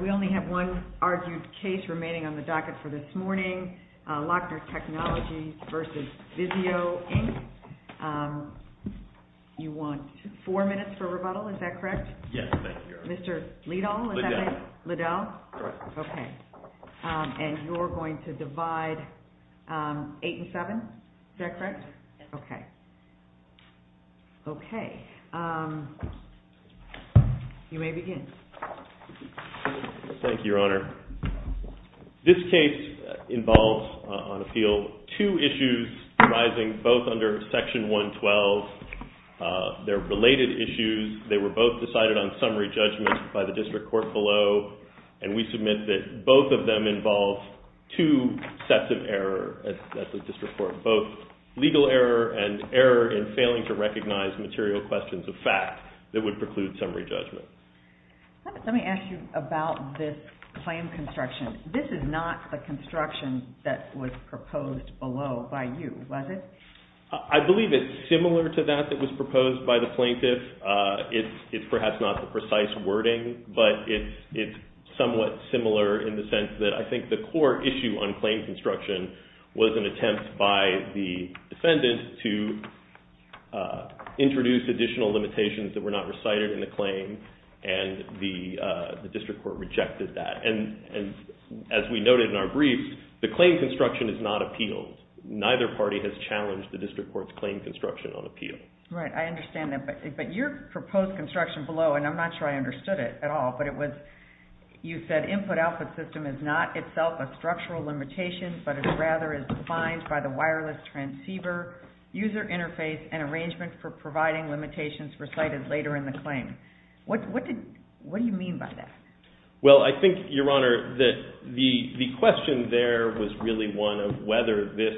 We only have one argued case remaining on the docket for this morning, Lochner Technologies v. VIZIO, Inc. You want four minutes for rebuttal, is that correct? Yes, thank you. Mr. Liddell? Liddell. Liddell? Correct. Okay. And you're going to divide eight and seven, is that correct? Yes. Okay. Okay. You may begin. Thank you, Your Honor. This case involves, on appeal, two issues arising both under Section 112. They're related issues. They were both decided on summary judgment by the district court below, and we submit that both of them involve two sets of error at the district court, both legal error and error in failing to recognize material questions of fact that would preclude summary judgment. Let me ask you about this claim construction. This is not the construction that was proposed below by you, was it? I believe it's similar to that that was proposed by the plaintiff. It's perhaps not the precise wording, but it's somewhat similar in the sense that I think the core issue on claim construction was an attempt by the defendant to introduce additional limitations that were not recited in the claim, and the district court rejected that. And as we noted in our brief, the claim construction is not appealed. Neither party has challenged the district court's claim construction on appeal. Right. I understand that. But your proposed construction below, and I'm not sure I understood it at all, but you said input-output system is not itself a structural limitation, but it rather is defined by the wireless transceiver, user interface, and arrangement for providing limitations recited later in the claim. What do you mean by that? Well, I think, Your Honor, the question there was really one of whether this,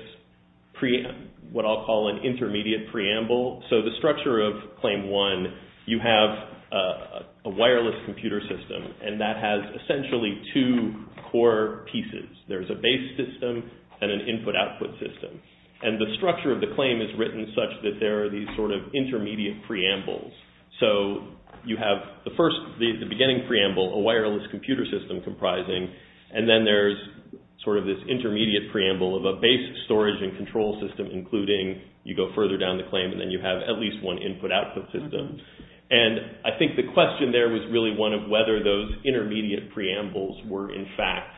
what I'll call an intermediate preamble. So the structure of Claim 1, you have a wireless computer system, and that has essentially two core pieces. There's a base system and an input-output system. And the structure of the claim is written such that there are these sort of intermediate preambles. So you have the first, the beginning preamble, a wireless computer system comprising, and then there's sort of this intermediate preamble of a base storage and control system, including you go further down the claim, and then you have at least one input-output system. And I think the question there was really one of whether those intermediate preambles were, in fact,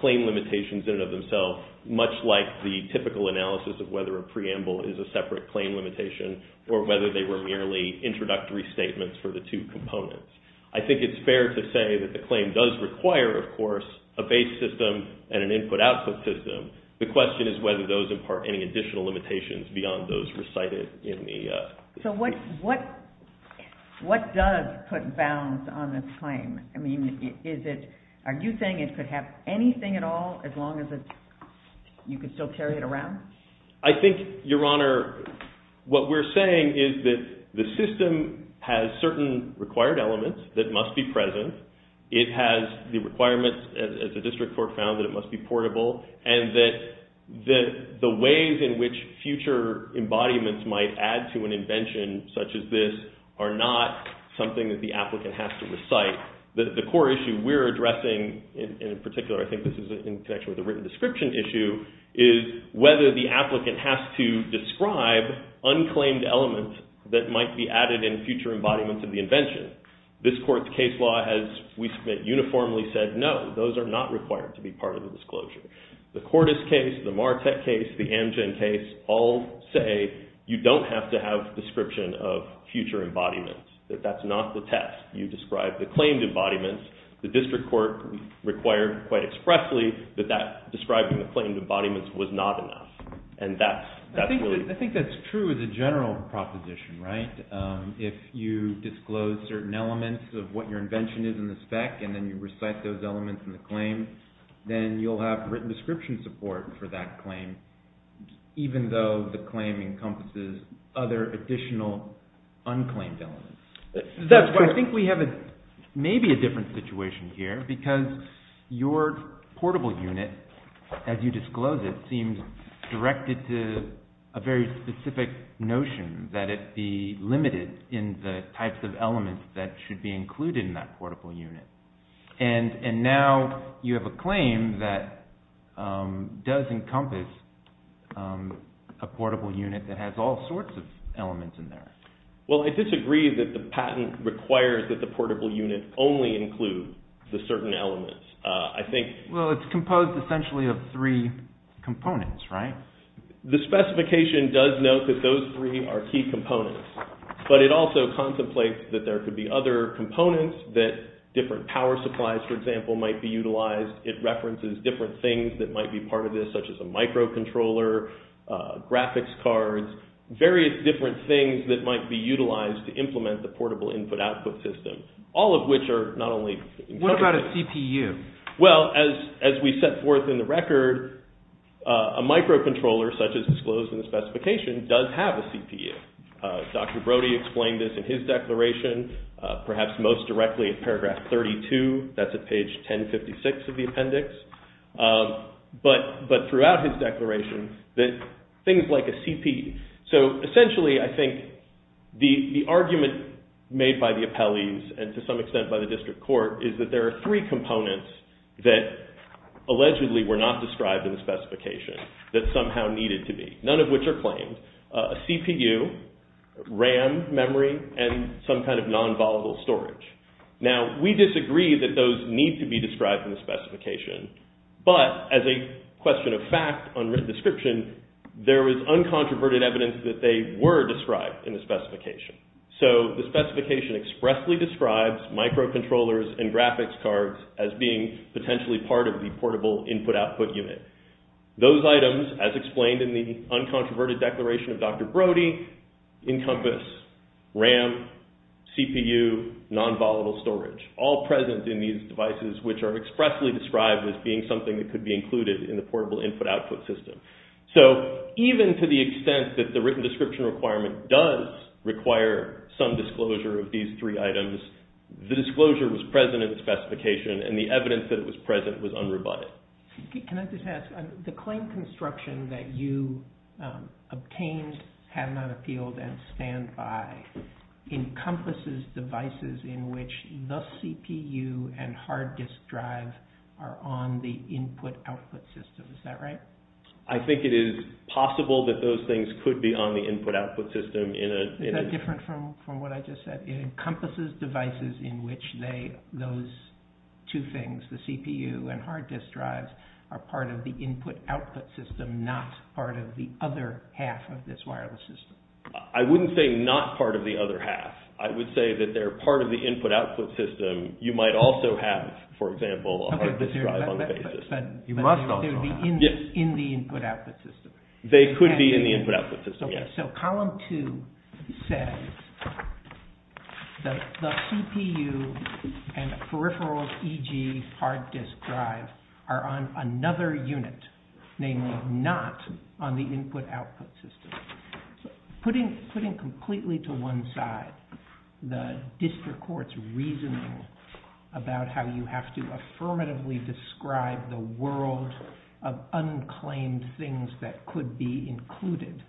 claim limitations in and of themselves, much like the typical analysis of whether a preamble is a separate claim limitation or whether they were merely introductory statements for the two components. I think it's fair to say that the claim does require, of course, a base system and an input-output system. The question is whether those impart any additional limitations beyond those recited in the… So what does put bounds on this claim? I mean, are you saying it could have anything at all as long as you could still carry it around? I think, Your Honor, what we're saying is that the system has certain required elements that must be present. It has the requirements, as the district court found, that it must be portable, and that the ways in which future embodiments might add to an invention such as this are not something that the applicant has to recite. The core issue we're addressing, and in particular I think this is in connection with the written description issue, is whether the applicant has to describe unclaimed elements that might be added in future embodiments of the invention. This court's case law has, we submit, uniformly said no, those are not required to be part of the disclosure. The Cordes case, the Martek case, the Amgen case all say you don't have to have a description of future embodiments, that that's not the test. You describe the claimed embodiments. The district court required quite expressly that that describing the claimed embodiments was not enough, and that's really… I think that's true as a general proposition, right? If you disclose certain elements of what your invention is in the spec, and then you recite those elements in the claim, then you'll have written description support for that claim, even though the claim encompasses other additional unclaimed elements. I think we have maybe a different situation here, because your portable unit, as you disclose it, seems directed to a very specific notion, that it be limited in the types of elements that should be included in that portable unit. And now you have a claim that does encompass a portable unit that has all sorts of elements in there. Well, I disagree that the patent requires that the portable unit only include the certain elements. Well, it's composed essentially of three components, right? The specification does note that those three are key components, but it also contemplates that there could be other components that different power supplies, for example, might be utilized. It references different things that might be part of this, such as a microcontroller, graphics cards, various different things that might be utilized to implement the portable input-output system, all of which are not only… What about a CPU? Well, as we set forth in the record, a microcontroller, such as disclosed in the specification, does have a CPU. Dr. Brody explained this in his declaration, perhaps most directly in paragraph 32. That's at page 1056 of the appendix. But throughout his declaration, things like a CPU… So essentially, I think the argument made by the appellees and to some extent by the district court is that there are three components that allegedly were not described in the specification that somehow needed to be, none of which are claimed, a CPU, RAM memory, and some kind of non-volatile storage. Now, we disagree that those need to be described in the specification, but as a question of fact, unwritten description, there is uncontroverted evidence that they were described in the specification. So the specification expressly describes microcontrollers and graphics cards as being potentially part of the portable input-output unit. Those items, as explained in the uncontroverted declaration of Dr. Brody, encompass RAM, CPU, non-volatile storage, all present in these devices, which are expressly described as being something that could be included in the portable input-output system. So even to the extent that the written description requirement does require some disclosure of these three items, the disclosure was present in the specification, and the evidence that it was present was unrebutted. Can I just ask, the claim construction that you obtained, have not appealed, and stand by encompasses devices in which the CPU and hard disk drive are on the input-output system. Is that right? I think it is possible that those things could be on the input-output system. Is that different from what I just said? It encompasses devices in which those two things, the CPU and hard disk drives, are part of the input-output system, not part of the other half of this wireless system. I wouldn't say not part of the other half. I would say that they're part of the input-output system. You might also have, for example, a hard disk drive on the basis. But they would be in the input-output system. They could be in the input-output system, yes. So column two says that the CPU and peripherals, e.g., hard disk drive, are on another unit, namely not on the input-output system. Putting completely to one side the district court's reasoning about how you have to affirmatively describe the world of unclaimed things that could be included,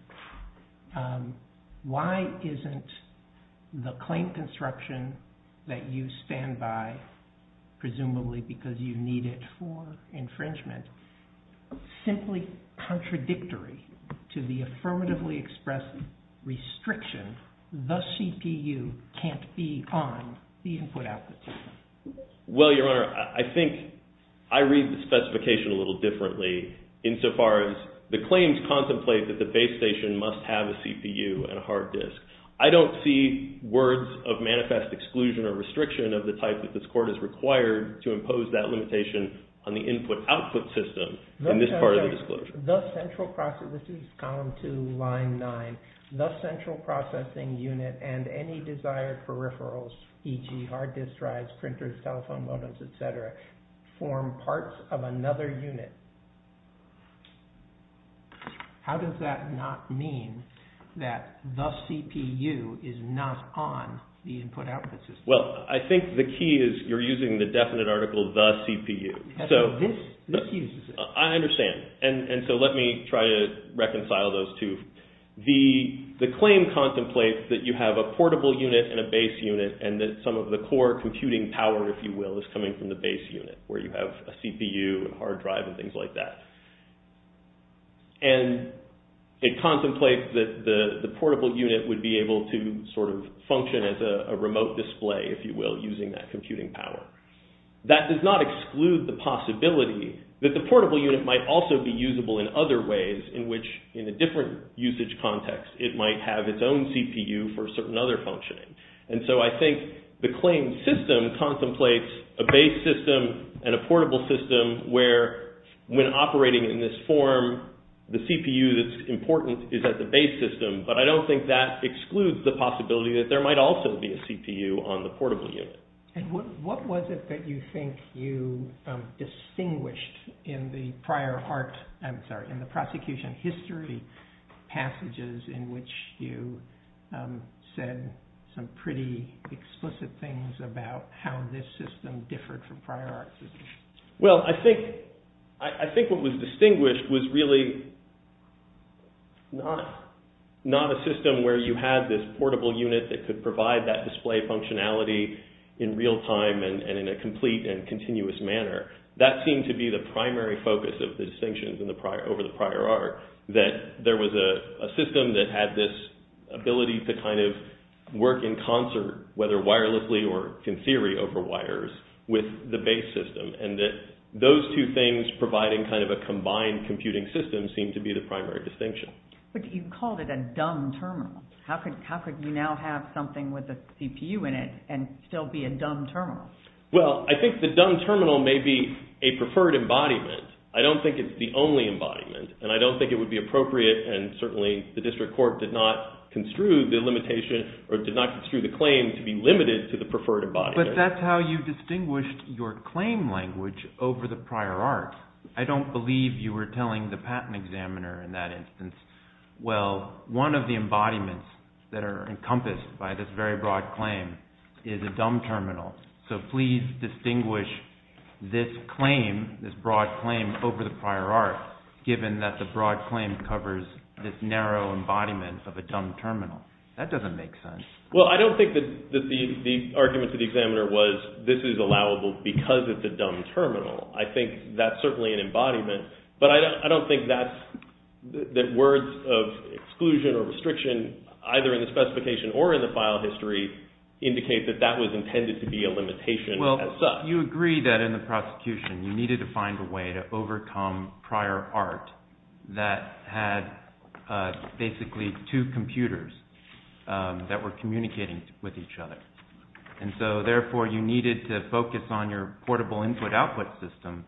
why isn't the claim construction that you stand by, presumably because you need it for infringement, simply contradictory to the affirmatively expressed restriction, the CPU can't be on the input-output system? Well, Your Honor, I think I read the specification a little differently insofar as the claims contemplate that the base station must have a CPU and a hard disk. I don't see words of manifest exclusion or restriction of the type that this court has required to impose that limitation on the input-output system in this part of the disclosure. This is column two, line nine. The central processing unit and any desired peripherals, e.g., hard disk drives, printers, telephone modems, etc., form parts of another unit. How does that not mean that the CPU is not on the input-output system? Well, I think the key is you're using the definite article, the CPU. So this uses it. I understand. And so let me try to reconcile those two. The claim contemplates that you have a portable unit and a base unit and that some of the core computing power, if you will, is coming from the base unit where you have a CPU and hard drive and things like that. And it contemplates that the portable unit would be able to sort of function as a remote display, if you will, using that computing power. That does not exclude the possibility that the portable unit might also be usable in other ways in which in a different usage context it might have its own CPU for certain other functioning. And so I think the claim system contemplates a base system and a portable system where when operating in this form, the CPU that's important is at the base system. But I don't think that excludes the possibility that there might also be a CPU on the portable unit. And what was it that you think you distinguished in the prosecution history passages in which you said some pretty explicit things about how this system differed from prior art systems? Well, I think what was distinguished was really not a system where you had this portable unit that could provide that display functionality in real time and in a complete and continuous manner. That seemed to be the primary focus of the distinctions over the prior art, that there was a system that had this ability to kind of work in concert, whether wirelessly or in theory over wires, with the base system. And that those two things providing kind of a combined computing system seemed to be the primary distinction. But you called it a dumb terminal. How could you now have something with a CPU in it and still be a dumb terminal? Well, I think the dumb terminal may be a preferred embodiment. I don't think it's the only embodiment. And I don't think it would be appropriate, and certainly the district court did not construe the limitation or did not construe the claim to be limited to the preferred embodiment. But that's how you distinguished your claim language over the prior art. I don't believe you were telling the patent examiner in that instance, well, one of the embodiments that are encompassed by this very broad claim is a dumb terminal. So please distinguish this claim, this broad claim, over the prior art, given that the broad claim covers this narrow embodiment of a dumb terminal. That doesn't make sense. Well, I don't think that the argument to the examiner was this is allowable because it's a dumb terminal. I think that's certainly an embodiment, but I don't think that words of exclusion or restriction, either in the specification or in the file history, indicate that that was intended to be a limitation. Well, you agree that in the prosecution you needed to find a way to overcome prior art that had basically two computers that were communicating with each other. And so therefore you needed to focus on your portable input-output system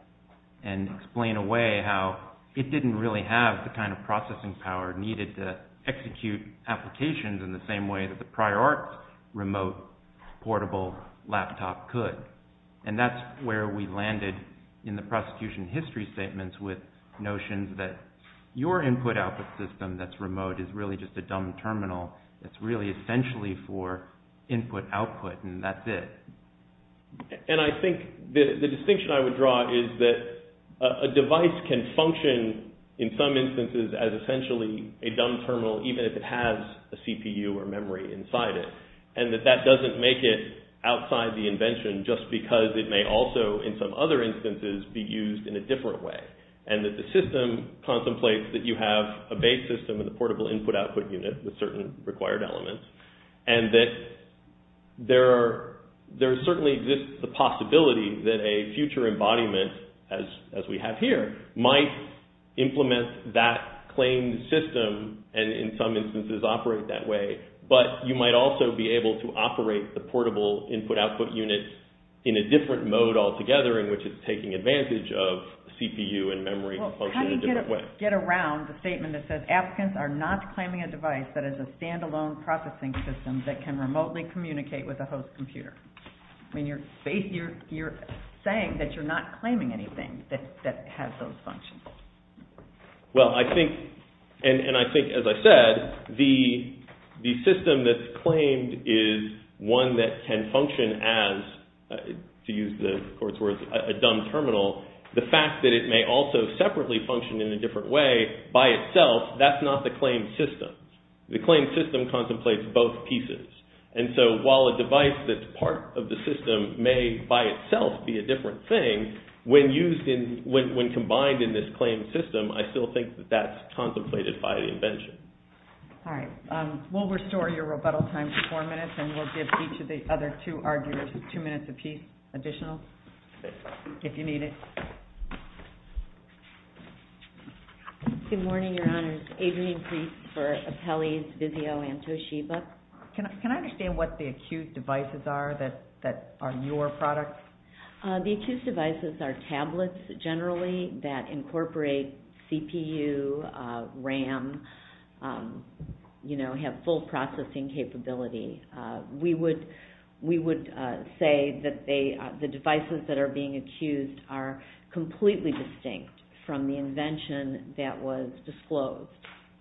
and explain away how it didn't really have the kind of processing power needed to execute applications in the same way that the prior art remote portable laptop could. And that's where we landed in the prosecution history statements with notions that your input-output system that's remote is really just a dumb terminal that's really essentially for input-output, and that's it. And I think the distinction I would draw is that a device can function in some instances as essentially a dumb terminal even if it has a CPU or memory inside it, and that that doesn't make it outside the invention just because it may also in some other instances be used in a different way, and that the system contemplates that you have a base system and a portable input-output unit with certain required elements, and that there certainly exists the possibility that a future embodiment as we have here might implement that claimed system and in some instances operate that way. But you might also be able to operate the portable input-output unit in a different mode altogether in which it's taking advantage of CPU and memory to function in a different way. You get around the statement that says applicants are not claiming a device that is a stand-alone processing system that can remotely communicate with a host computer. I mean, you're saying that you're not claiming anything that has those functions. Well, I think, and I think as I said, the system that's claimed is one that can function as, to use the court's words, a dumb terminal. The fact that it may also separately function in a different way by itself, that's not the claimed system. The claimed system contemplates both pieces, and so while a device that's part of the system may by itself be a different thing, when used in, when combined in this claimed system, I still think that that's contemplated by the invention. All right. We'll restore your rebuttal time to four minutes, and we'll give each of the other two arguers two minutes apiece additional, if you need it. Good morning, Your Honors, evening briefs for Apelles, Vizio, and Toshiba. Can I understand what the acute devices are that are your product? The acute devices are tablets, generally, that incorporate CPU, RAM, you know, have full processing capability. We would say that the devices that are being accused are completely distinct from the invention that was disclosed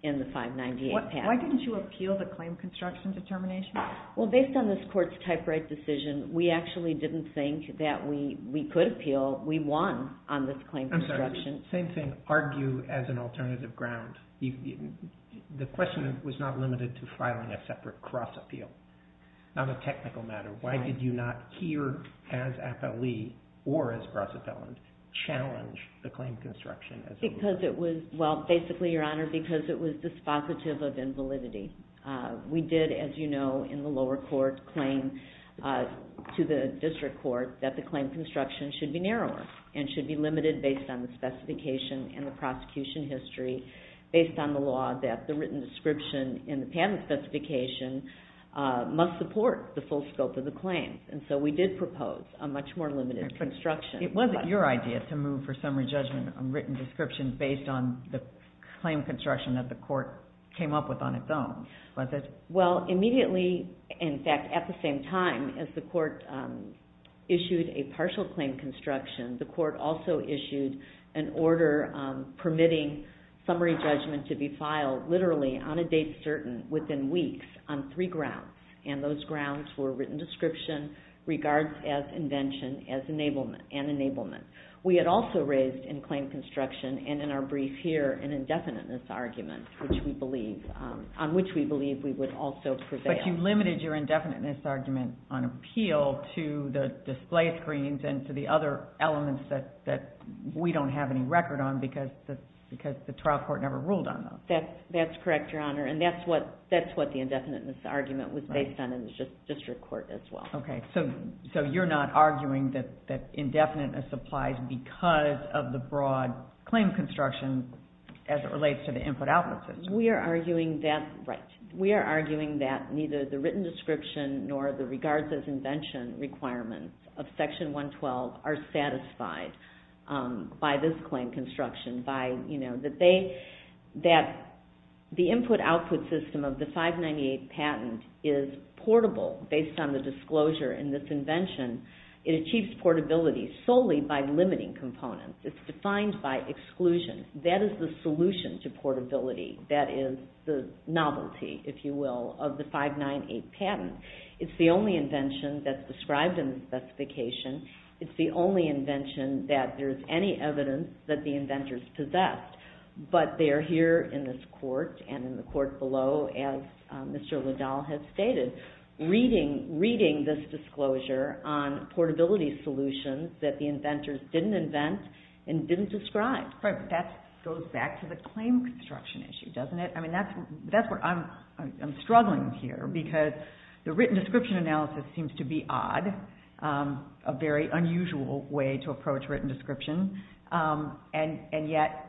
in the 598 patent. Why didn't you appeal the claim construction determination? Well, based on this court's type right decision, we actually didn't think that we could appeal. We won on this claim construction. I'm sorry, same thing. Argue as an alternative ground. The question was not limited to filing a separate cross appeal, not a technical matter. Why did you not, here as Apelles, or as cross appellant, challenge the claim construction as a rule? Because it was, well, basically, Your Honor, because it was dispositive of invalidity. We did, as you know, in the lower court, claim to the district court that the claim construction should be narrower and should be limited based on the specification and the prosecution history, based on the law that the written description in the patent specification must support the full scope of the claim. And so we did propose a much more limited construction. It wasn't your idea to move for summary judgment on written description based on the claim construction that the court came up with on its own, was it? Well, immediately, in fact, at the same time as the court issued a partial claim construction, the court also issued an order permitting summary judgment to be filed, literally, on a date certain, within weeks, on three grounds. And those grounds were written description, regards as invention, and enablement. We had also raised in claim construction, and in our brief here, an indefiniteness argument, on which we believe we would also prevail. But you limited your indefiniteness argument on appeal to the display screens and to the other elements that we don't have any record on because the trial court never ruled on them. That's correct, Your Honor. And that's what the indefiniteness argument was based on in the district court as well. Okay. So you're not arguing that indefiniteness applies because of the broad claim construction as it relates to the input-output system? We are arguing that neither the written description nor the regards as invention requirements of Section 112 are satisfied by this claim construction. That the input-output system of the 598 patent is portable based on the disclosure in this invention. It achieves portability solely by limiting components. It's defined by exclusion. That is the solution to portability. That is the novelty, if you will, of the 598 patent. It's the only invention that's described in the specification. It's the only invention that there's any evidence that the inventors possessed. But they're here in this court and in the court below, as Mr. Liddell has stated, reading this disclosure on portability solutions that the inventors didn't invent and didn't describe. That goes back to the claim construction issue, doesn't it? I'm struggling here because the written description analysis seems to be odd. A very unusual way to approach written description. And yet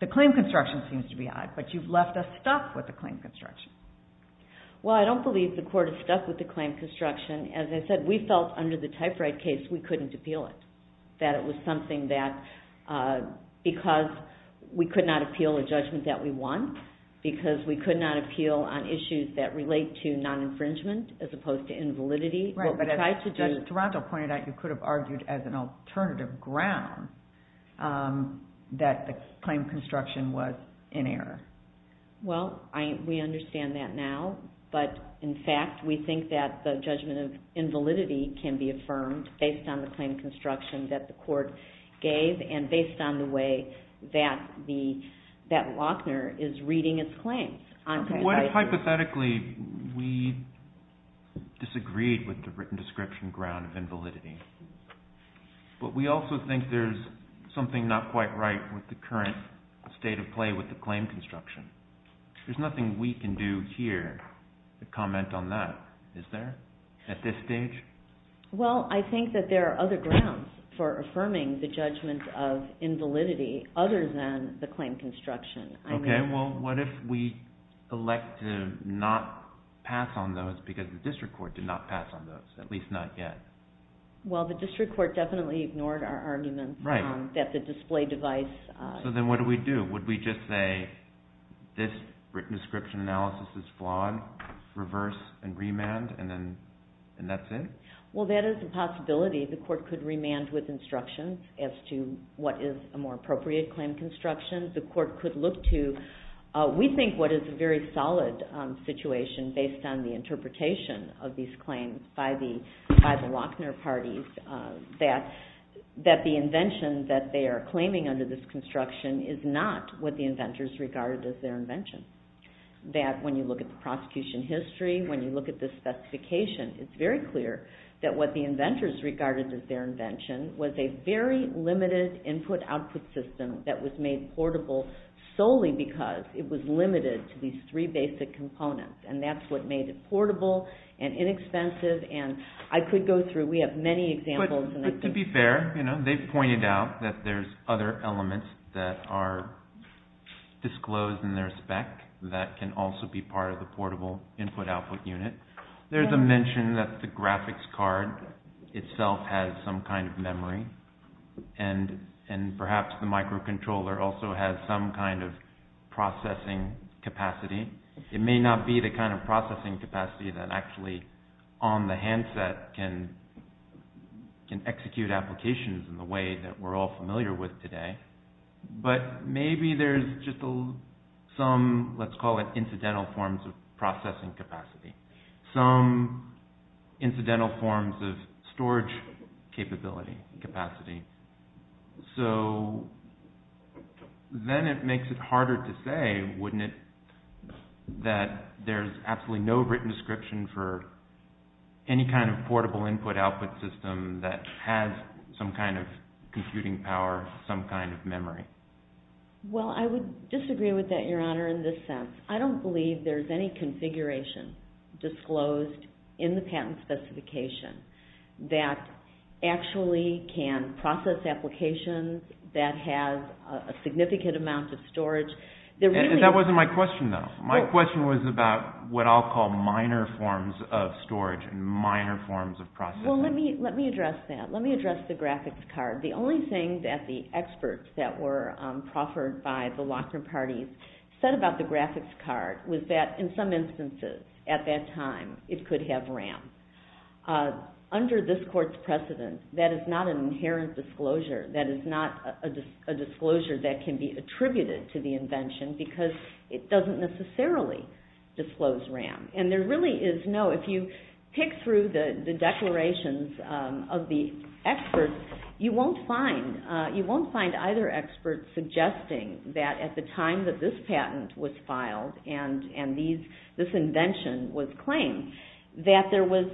the claim construction seems to be odd. But you've left us stuck with the claim construction. Well, I don't believe the court is stuck with the claim construction. As I said, we felt under the typewrite case we couldn't appeal it. That it was something that, because we could not appeal a judgment that we want, because we could not appeal on issues that relate to non-infringement as opposed to invalidity. Right, but as Judge Toronto pointed out, you could have argued as an alternative ground that the claim construction was in error. Well, we understand that now. But in fact, we think that the judgment of invalidity can be affirmed based on the claim construction that the court gave and based on the way that Lochner is reading its claims. What if, hypothetically, we disagreed with the written description ground of invalidity? But we also think there's something not quite right with the current state of play with the claim construction. There's nothing we can do here to comment on that, is there, at this stage? Well, I think that there are other grounds for affirming the judgment of invalidity other than the claim construction. Okay, well, what if we elect to not pass on those because the district court did not pass on those, at least not yet? Well, the district court definitely ignored our argument that the display device... So then what do we do? Would we just say this written description analysis is flawed, reverse, and remand, and that's it? Well, that is a possibility. The court could remand with instructions as to what is a more appropriate claim construction. The court could look to... We think what is a very solid situation based on the interpretation of these claims by the Lochner parties that the invention that they are claiming under this construction is not what the inventors regarded as their invention. That when you look at the prosecution history, when you look at the specification, it's very clear that what the inventors regarded as their invention was a very limited input-output system that was made portable solely because it was limited to these three basic components. And that's what made it portable and inexpensive. And I could go through... We have many examples... But to be fair, they've pointed out that there's other elements that are disclosed in their spec that can also be part of the portable input-output unit. There's a mention that the graphics card itself has some kind of memory, and perhaps the microcontroller also has some kind of processing capacity. It may not be the kind of processing capacity that actually on the handset can execute applications in the way that we're all familiar with today. But maybe there's just some, let's call it, incidental forms of processing capacity. Some incidental forms of storage capability, capacity. So then it makes it harder to say, wouldn't it, that there's absolutely no written description for any kind of portable input-output system that has some kind of computing power, some kind of memory. Well, I would disagree with that, Your Honor, in this sense. I don't believe there's any configuration disclosed in the patent specification that actually can process applications that have a significant amount of storage. That wasn't my question, though. My question was about what I'll call minor forms of storage and minor forms of processing. Well, let me address that. Let me address the graphics card. The only thing that the experts that were proffered by the Lochner parties said about the graphics card was that in some instances at that time it could have RAM. Under this Court's precedent, that is not an inherent disclosure. That is not a disclosure that can be attributed to the invention because it doesn't necessarily disclose RAM. And there really is no... If you pick through the declarations of the experts, you won't find either expert suggesting that at the time that this patent was filed and this invention was claimed, that there was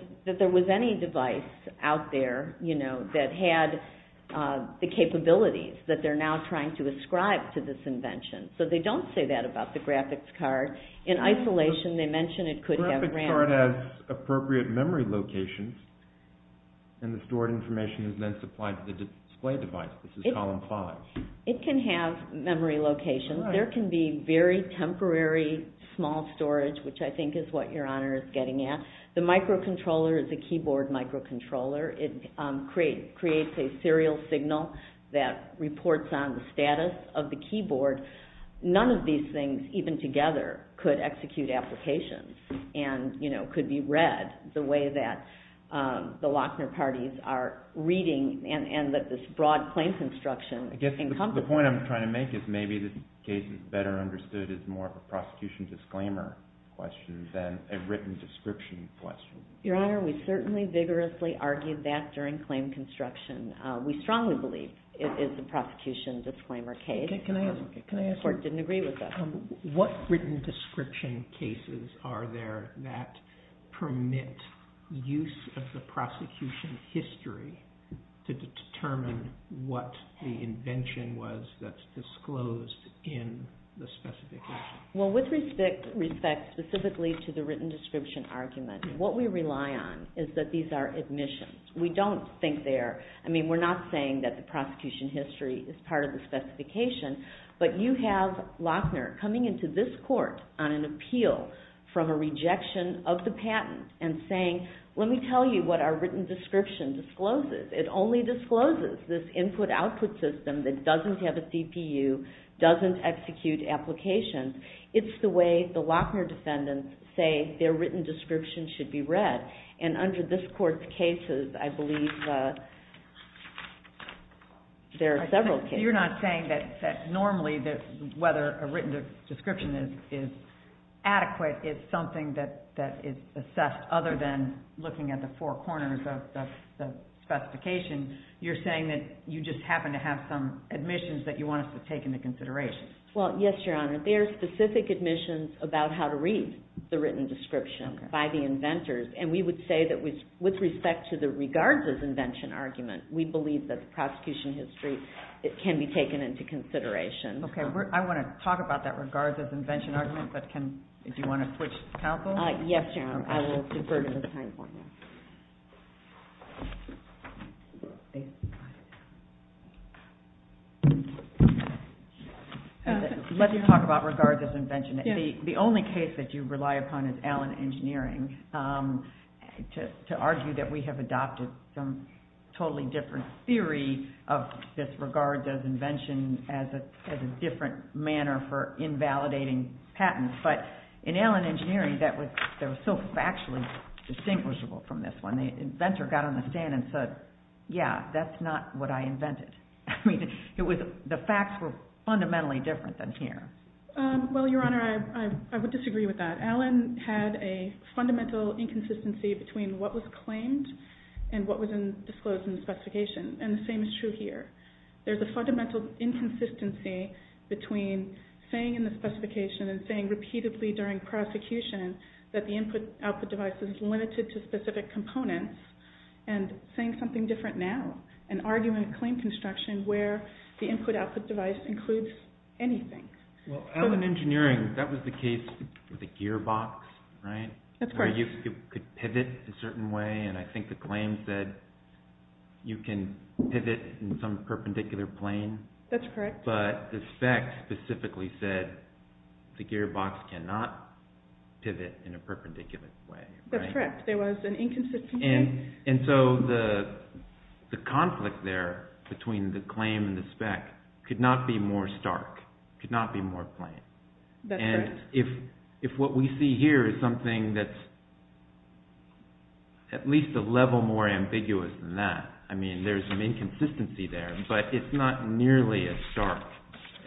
any device out there that had the capabilities that they're now trying to ascribe to this invention. So they don't say that about the graphics card. In isolation, they mention it could have RAM. The graphics card has appropriate memory locations and the stored information is then supplied to the display device. This is column 5. It can have memory locations. There can be very temporary small storage, which I think is what Your Honor is getting at. The microcontroller is a keyboard microcontroller. It creates a serial signal that reports on the status of the keyboard. None of these things, even together, could execute applications and could be read the way that the Lochner parties are reading and that this broad claim construction encompasses. The point I'm trying to make is maybe this case is better understood as more of a prosecution disclaimer question than a written description question. Your Honor, we certainly vigorously argued that during claim construction. We strongly believe it is a prosecution disclaimer case. The court didn't agree with that. What written description cases are there that permit use of the prosecution history to determine what the invention was that's disclosed in the specification? With respect specifically to the written description argument, what we rely on is that these are admissions. We don't think they are. We're not saying that the prosecution history is part of the specification, but you have Lochner coming into this court on an appeal from a rejection of the patent and saying, let me tell you what our written description discloses. It only discloses this input-output system that doesn't have a CPU, doesn't execute applications. It's the way the Lochner defendants say their written description should be read. Under this court's cases, I believe there are several cases. You're not saying that normally whether a written description is adequate is something that is assessed other than looking at the four corners of the specification. You're saying that you just happen to have some admissions that you want us to take into consideration. Yes, Your Honor. There are specific admissions about how to read the written description by the inventors, and we would say that with respect to the regards-as-invention argument, we believe that the prosecution history can be taken into consideration. Okay. I want to talk about that regards-as-invention argument, but do you want to switch counsel? Yes, Your Honor. I will defer to the time for now. Let me talk about regards-as-invention. The only case that you rely upon is Allen Engineering to argue that we have adopted some totally different theory of this regards-as-invention as a different manner for invalidating patents. But in Allen Engineering, that was so factually distinguishable from this one. The inventor got on the stand and said, yeah, that's not what I invented. I mean, the facts were fundamentally different than here. Well, Your Honor, I would disagree with that. Allen had a fundamental inconsistency between what was claimed and what was disclosed in the specification, and the same is true here. There's a fundamental inconsistency between saying in the specification and saying repeatedly during prosecution that the input-output device is limited to specific components and saying something different now, an argument-claim construction where the input-output device includes anything. Well, Allen Engineering, that was the case with the gearbox, right? That's correct. You could pivot a certain way, and I think the claim said you can pivot in some perpendicular plane. That's correct. But the fact specifically said the gearbox cannot pivot in a perpendicular way. That's correct. There was an inconsistency. And so the conflict there between the claim and the spec could not be more stark, could not be more plain. That's correct. And if what we see here is something that's at least a level more ambiguous than that, I mean, there's an inconsistency there, but it's not nearly as stark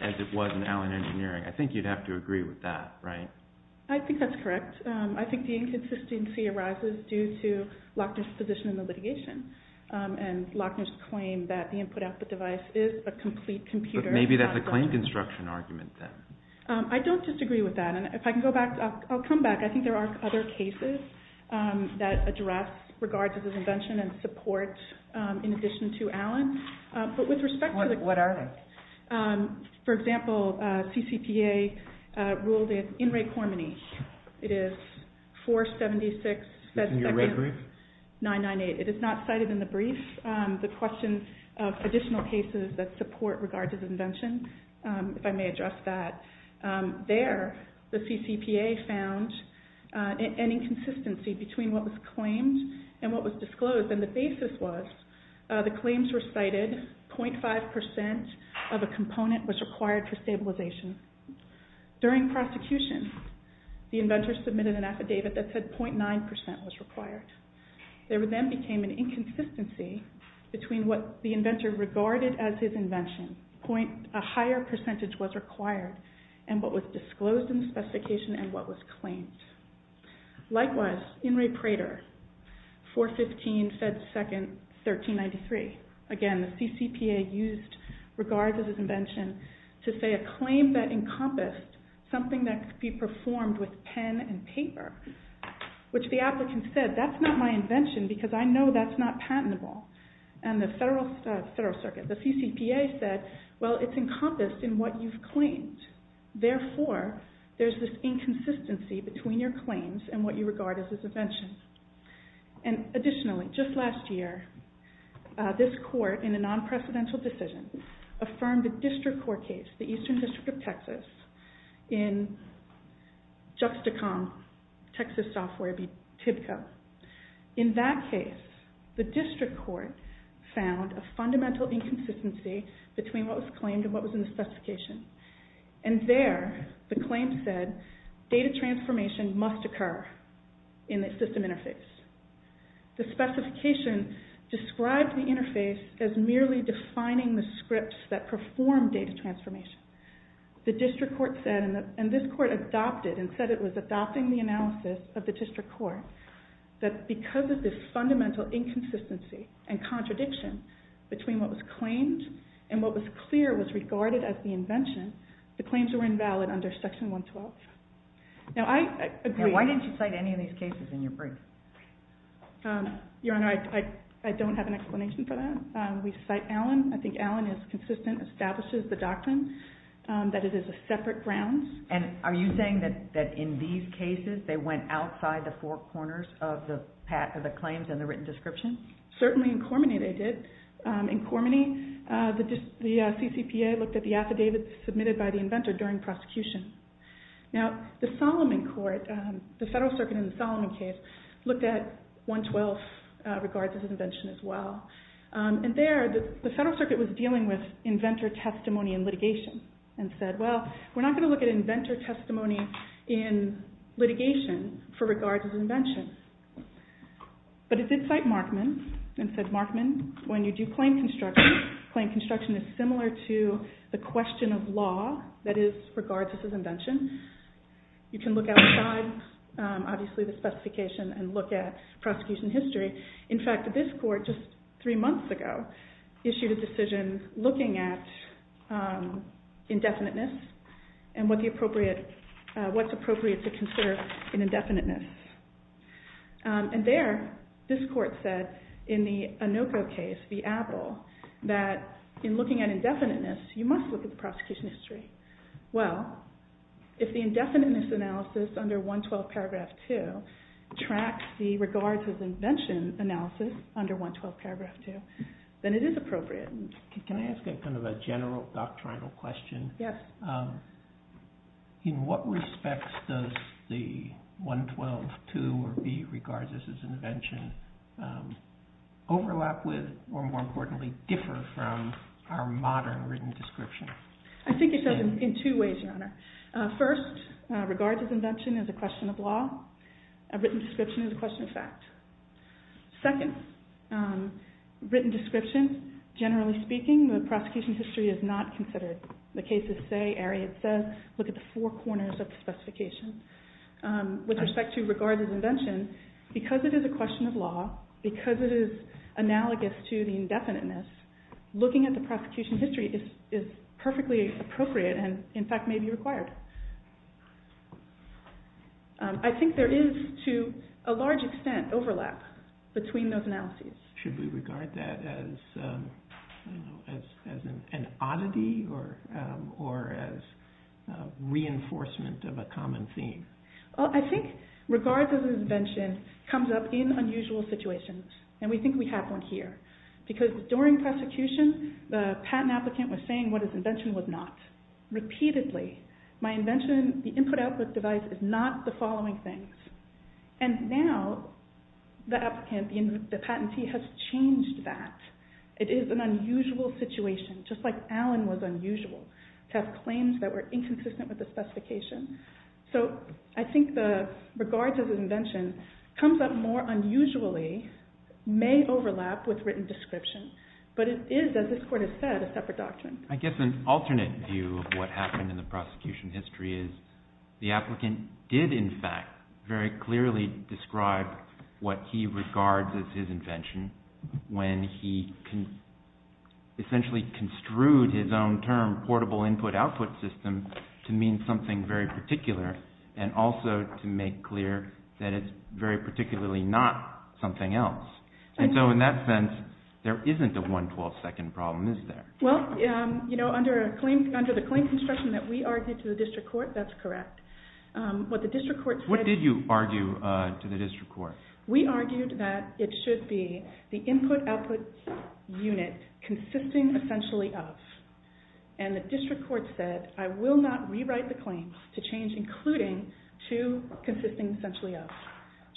as it was in Allen Engineering. I think you'd have to agree with that, right? I think that's correct. I think the inconsistency arises due to Lochner's position in the litigation and Lochner's claim that the input-output device is a complete computer. But maybe that's a claim-construction argument, then. I don't disagree with that. And if I can go back, I'll come back. I think there are other cases that address regards to this invention and support in addition to Allen. But with respect to the... What are they? For example, CCPA ruled in rate harmony. It is 476... Is this in your red brief? 998. It is not cited in the brief. The question of additional cases that support regard to the invention, if I may address that. There, the CCPA found an inconsistency between what was claimed and what was disclosed. And the basis was the claims were cited, 0.5% of a component was required for stabilization. During prosecution, the inventor submitted an affidavit that said 0.9% was required. There then became an inconsistency between what the inventor regarded as his invention, a higher percentage was required, and what was disclosed in the specification and what was claimed. Likewise, in Ray Prater, 415, Fed 2nd, 1393. Again, the CCPA used regards as his invention to say a claim that encompassed something that could be performed with pen and paper, which the applicant said, that's not my invention because I know that's not patentable. And the Federal Circuit, the CCPA said, well, it's encompassed in what you've claimed. Therefore, there's this inconsistency between your claims and what you regard as his invention. And additionally, just last year, this court in a non-precedential decision affirmed a district court case, the Eastern District of Texas, in Juxtacom, Texas software, BTIBCO. In that case, the district court found a fundamental inconsistency between what was claimed and what was in the specification. And there, the claim said, data transformation must occur in the system interface. The specification described the interface as merely defining the scripts that perform data transformation. The district court said, and this court adopted and said it was adopting the analysis of the district court, that because of this fundamental inconsistency and contradiction between what was claimed and what was clear was regarded as the invention, the claims were invalid under Section 112. Now, I agree... Why didn't you cite any of these cases in your brief? Your Honor, I don't have an explanation for that. We cite Allen. I think Allen is consistent, establishes the doctrine that it is a separate ground. And are you saying that in these cases they went outside the four corners of the claims and the written description? Certainly in Cormany they did. In Cormany, the CCPA looked at the affidavits submitted by the inventor during prosecution. Now, the Solomon Court, the Federal Circuit in the Solomon case, looked at 112 regards as an invention as well. And there, the Federal Circuit was dealing with inventor testimony in litigation and said, well, we're not going to look at inventor testimony in litigation for regards to invention. But it did cite Markman and said, Markman, when you do claim construction, claim construction is similar to the question of law that is regards as an invention. You can look outside, obviously, the specification and look at prosecution history. In fact, this Court, just three months ago, issued a decision looking at indefiniteness and what's appropriate to consider in indefiniteness. And there, this Court said, in the Anoko case, the Apple, that in looking at indefiniteness, you must look at the prosecution history. Well, if the indefiniteness analysis under 112 paragraph 2 tracks the regards as invention analysis under 112 paragraph 2, then it is appropriate. Can I ask kind of a general doctrinal question? Yes. In what respects does the 112.2 or B, regards as an invention, overlap with, or more importantly, differ from, our modern written description? I think it does in two ways, Your Honor. First, regards as invention is a question of law. A written description is a question of fact. Second, written description, generally speaking, the prosecution history is not considered. The cases say, Ariad says, look at the four corners of the specification. With respect to regards as invention, because it is a question of law, because it is analogous to the indefiniteness, looking at the prosecution history is perfectly appropriate and, in fact, may be required. I think there is, to a large extent, overlap between those analyses. Should we regard that as an oddity or as reinforcement of a common theme? I think regards as invention comes up in unusual situations. And we think we have one here. Because during prosecution, the patent applicant was saying what his invention was not. Repeatedly, my invention, the input-output device, is not the following things. And now, the patentee has changed that. It is an unusual situation, just like Allen was unusual, to have claims that were inconsistent with the specification. So I think the regards as invention comes up more unusually, may overlap with written description. But it is, as this court has said, a separate doctrine. I guess an alternate view of what happened in the prosecution history is the applicant did, in fact, very clearly describe what he regards as his invention when he essentially construed his own term, portable input-output system, to mean something very particular and also to make clear that it's very particularly not something else. And so in that sense, there isn't a 1-12-second problem, is there? Well, under the claim construction that we argued to the district court, that's correct. What did you argue to the district court? We argued that it should be the input-output unit consisting essentially of. And the district court said, I will not including to consisting essentially of.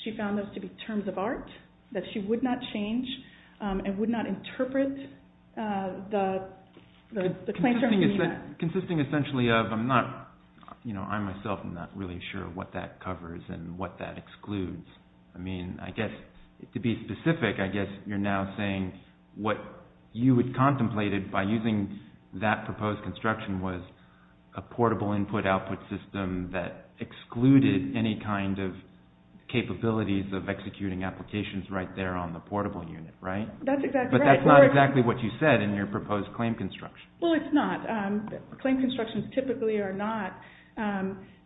She found those to be terms of art that she would not change and would not interpret the claim term meaning that. Consisting essentially of. I myself am not really sure what that covers and what that excludes. I mean, I guess, to be specific, I guess you're now saying, what you had contemplated by using that proposed construction was a portable input-output system that excluded any kind of capabilities of executing applications right there on the portable unit, right? But that's not exactly what you said in your proposed claim construction. Well, it's not. Claim constructions typically are not.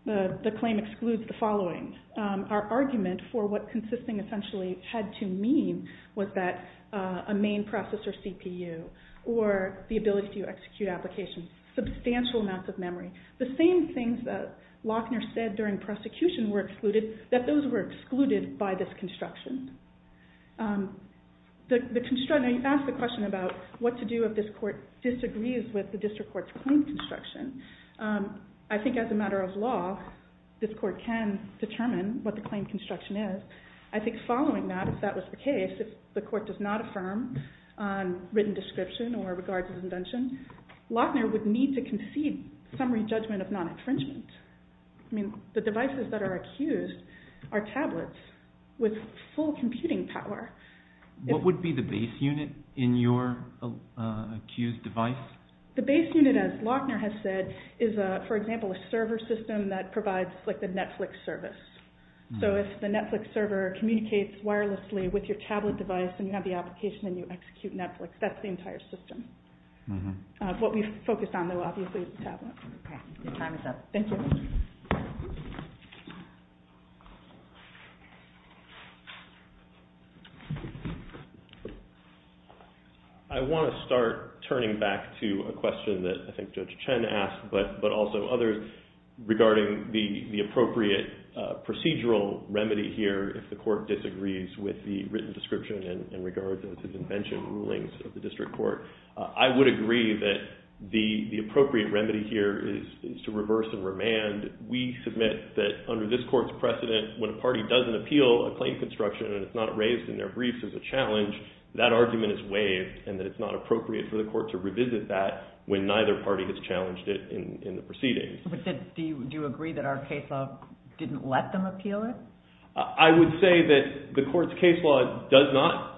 The claim excludes the following. Our argument for what consisting essentially had to mean to execute applications. Substantial amounts of memory. The same things that Lochner said during prosecution were excluded, that those were excluded by this construction. You asked the question about what to do if this court disagrees with the district court's claim construction. I think as a matter of law, this court can determine what the claim construction is. I think following that, if that was the case, if the court does not affirm written description or regards invention, Lochner would need to concede summary judgment of non-infringement. I mean, the devices that are accused are tablets with full computing power. What would be the base unit in your accused device? The base unit, as Lochner has said, is, for example, a server system that provides like the Netflix service. So if the Netflix server communicates wirelessly with your tablet device and you have the application and you execute Netflix, that's the entire system. What we've focused on though, obviously, is the tablet. OK, your time is up. Thank you. I want to start turning back to a question that I think Judge Chen asked, but also others, regarding the appropriate procedural remedy here if the court disagrees with the written description and regards it as invention rulings of the district court. I would agree that the appropriate remedy here is to reverse and remand. We submit that under this court's precedent, when a party doesn't appeal a claim construction and it's not raised in their briefs as a challenge, that argument is waived and that it's not appropriate for the court to revisit that when neither party has challenged it in the proceedings. But do you agree that our case law didn't let them appeal it? I would say that the court's case law does not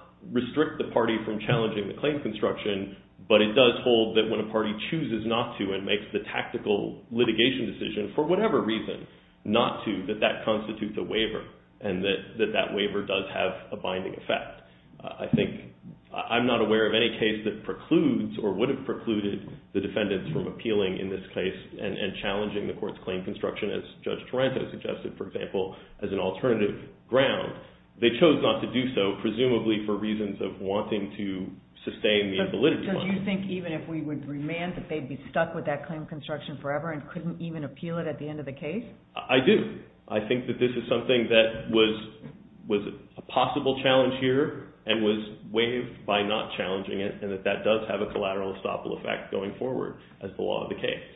but it does hold that when a party chooses not to and makes the tactical litigation decision, for whatever reason, not to, that that constitutes a waiver and that that waiver does have a binding effect. I think I'm not aware of any case that precludes or would have precluded the defendants from appealing in this case and challenging the court's claim construction, as Judge Taranto suggested, for example, as an alternative ground. They chose not to do so, presumably for reasons of wanting to sustain the validity law. But do you think, even if we would remand, that they'd be stuck with that claim construction forever and couldn't even appeal it at the end of the case? I do. I think that this is something that was a possible challenge here and was waived by not challenging it and that that does have a collateral estoppel effect going forward as the law of the case.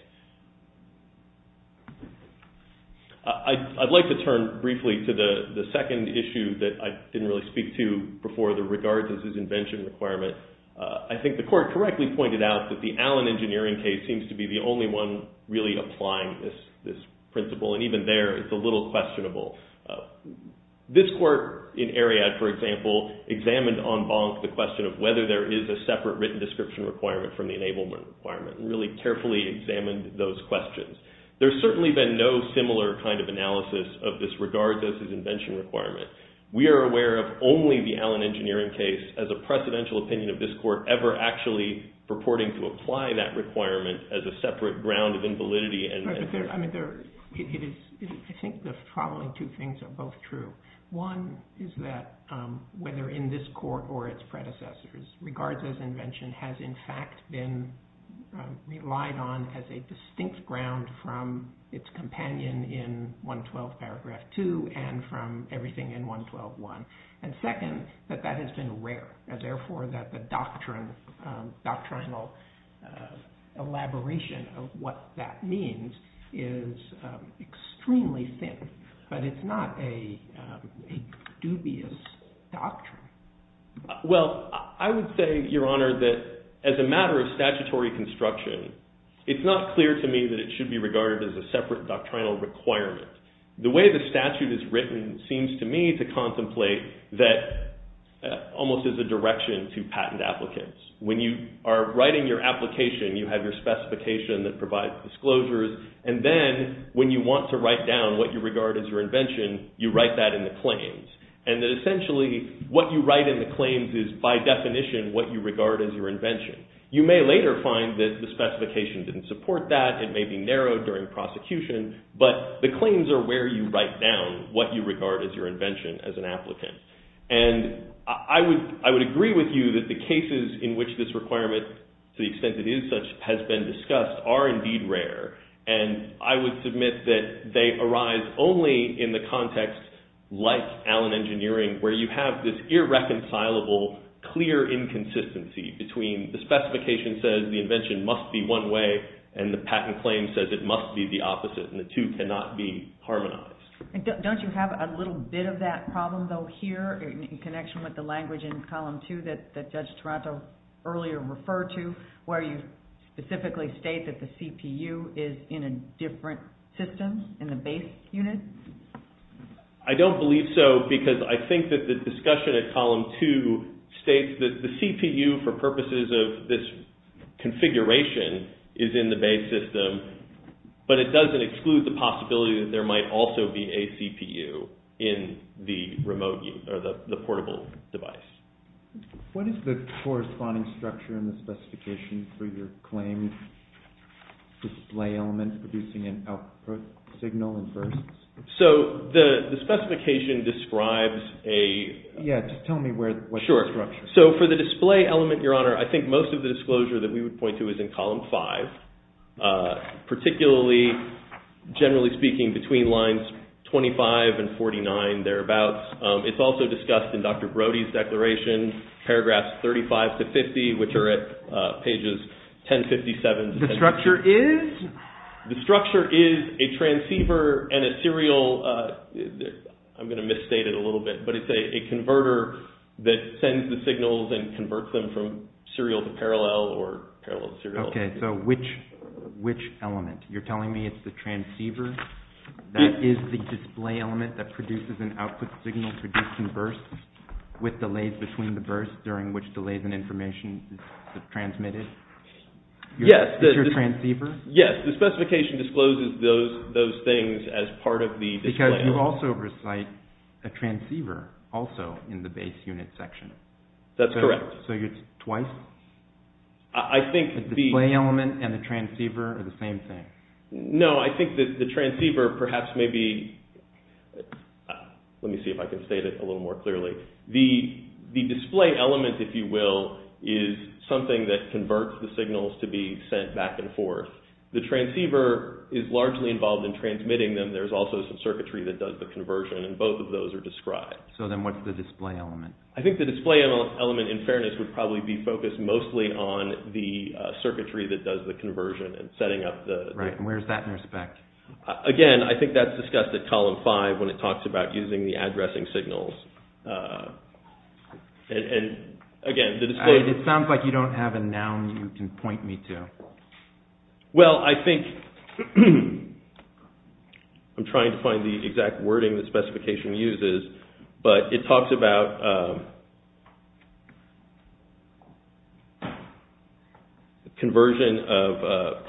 I'd like to turn briefly to the second issue that I didn't really speak to before, the regards as his invention requirement. I think the court correctly pointed out that the Allen engineering case seems to be the only one really applying this principle. And even there, it's a little questionable. This court in Ariadne, for example, examined en banc the question of whether there is a separate written description requirement from the enablement requirement and really carefully examined those questions. There's certainly been no similar kind of analysis of this regards as his invention requirement. We are aware of only the Allen engineering case as a precedential opinion of this court ever actually purporting to apply that requirement as a separate ground of invalidity. I think the following two things are both true. One is that whether in this court or its predecessors, regards as invention has, in fact, been relied on as a distinct ground from its companion in 112 paragraph 2 and from everything in 112.1. And second, that that has been rare. And therefore, that the doctrinal elaboration of what that means is extremely thin. But it's not a dubious doctrine. Well, I would say, Your Honor, that as a matter of statutory construction, it's not clear to me that it should be regarded as a separate doctrinal requirement. The way the statute is written seems to me to contemplate that almost as a direction to patent applicants. When you are writing your application, you have your specification that provides disclosures. And then when you want to write down what you regard as your invention, you write that in the claims. And that essentially, what you write in the claims is by definition what you regard as your invention. You may later find that the specification didn't support that. It may be narrowed during prosecution. But the claims are where you write down what you regard as your invention as an applicant. And I would agree with you that the cases in which this requirement, to the extent it is such, has been discussed are indeed rare. And I would submit that they arise only in the context like Allen Engineering, where you have this irreconcilable, clear inconsistency between the specification that says the invention must be one way and the patent claim says it must be the opposite and the two cannot be harmonized. Don't you have a little bit of that problem though here in connection with the language in Column 2 that Judge Toronto earlier referred to where you specifically state that the CPU is in a different system in the base unit? I don't believe so because I think that the discussion at Column 2 states that the CPU, for purposes of this configuration, is in the base system. But it doesn't exclude the possibility that there might also be a CPU in the portable device. What is the corresponding structure in the specification for your claim display element producing an output signal? So the specification describes a... Yeah, just tell me what the structure is. So for the display element, Your Honor, I think most of the disclosure that we would point to is in Column 5, particularly, generally speaking, between lines 25 and 49, thereabouts. It's also discussed in Dr. Brody's declaration, paragraphs 35 to 50, which are at pages 1057... The structure is? The structure is a transceiver and a serial... I'm going to misstate it a little bit, but it's a converter that sends the signals and converts them from serial to parallel or parallel to serial. Okay, so which element? You're telling me it's the transceiver that is the display element that produces an output signal producing bursts with delays between the bursts during which delays in information is transmitted? Yes. Yes, the specification discloses those things as part of the display element. But you also recite a transceiver also in the base unit section. That's correct. So it's twice? I think the... The display element and the transceiver are the same thing? No, I think that the transceiver perhaps may be... Let me see if I can state it a little more clearly. The display element, if you will, is something that converts the signals to be sent back and forth. The transceiver is largely involved in transmitting them. There's also some circuitry that does the conversion and both of those are described. So then what's the display element? I think the display element, in fairness, would probably be focused mostly on the circuitry that does the conversion and setting up the... Right, and where's that in respect? Again, I think that's discussed at column five when it talks about using the addressing signals. And again, the display... It sounds like you don't have a noun you can point me to. Well, I think... I'm trying to find the exact wording the specification uses, but it talks about... conversion of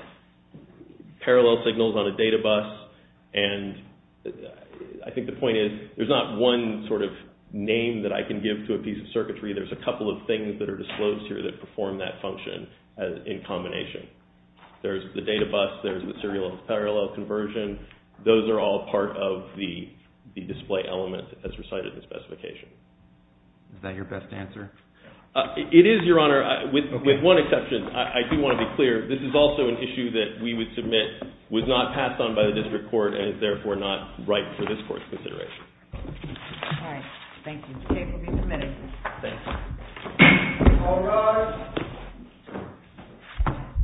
parallel signals on a data bus and I think the point is there's not one sort of name that I can give to a piece of circuitry. There's a couple of things that are disclosed here that perform that function in combination. There's the data bus, there's the serial and parallel conversion. Those are all part of the display element as recited in the specification. Is that your best answer? It is, Your Honor, with one exception. I do want to be clear. This is also an issue that we would submit was not passed on by the district court and is therefore not right for this court's consideration. All right, thank you. The case will be submitted. Thanks. All rise.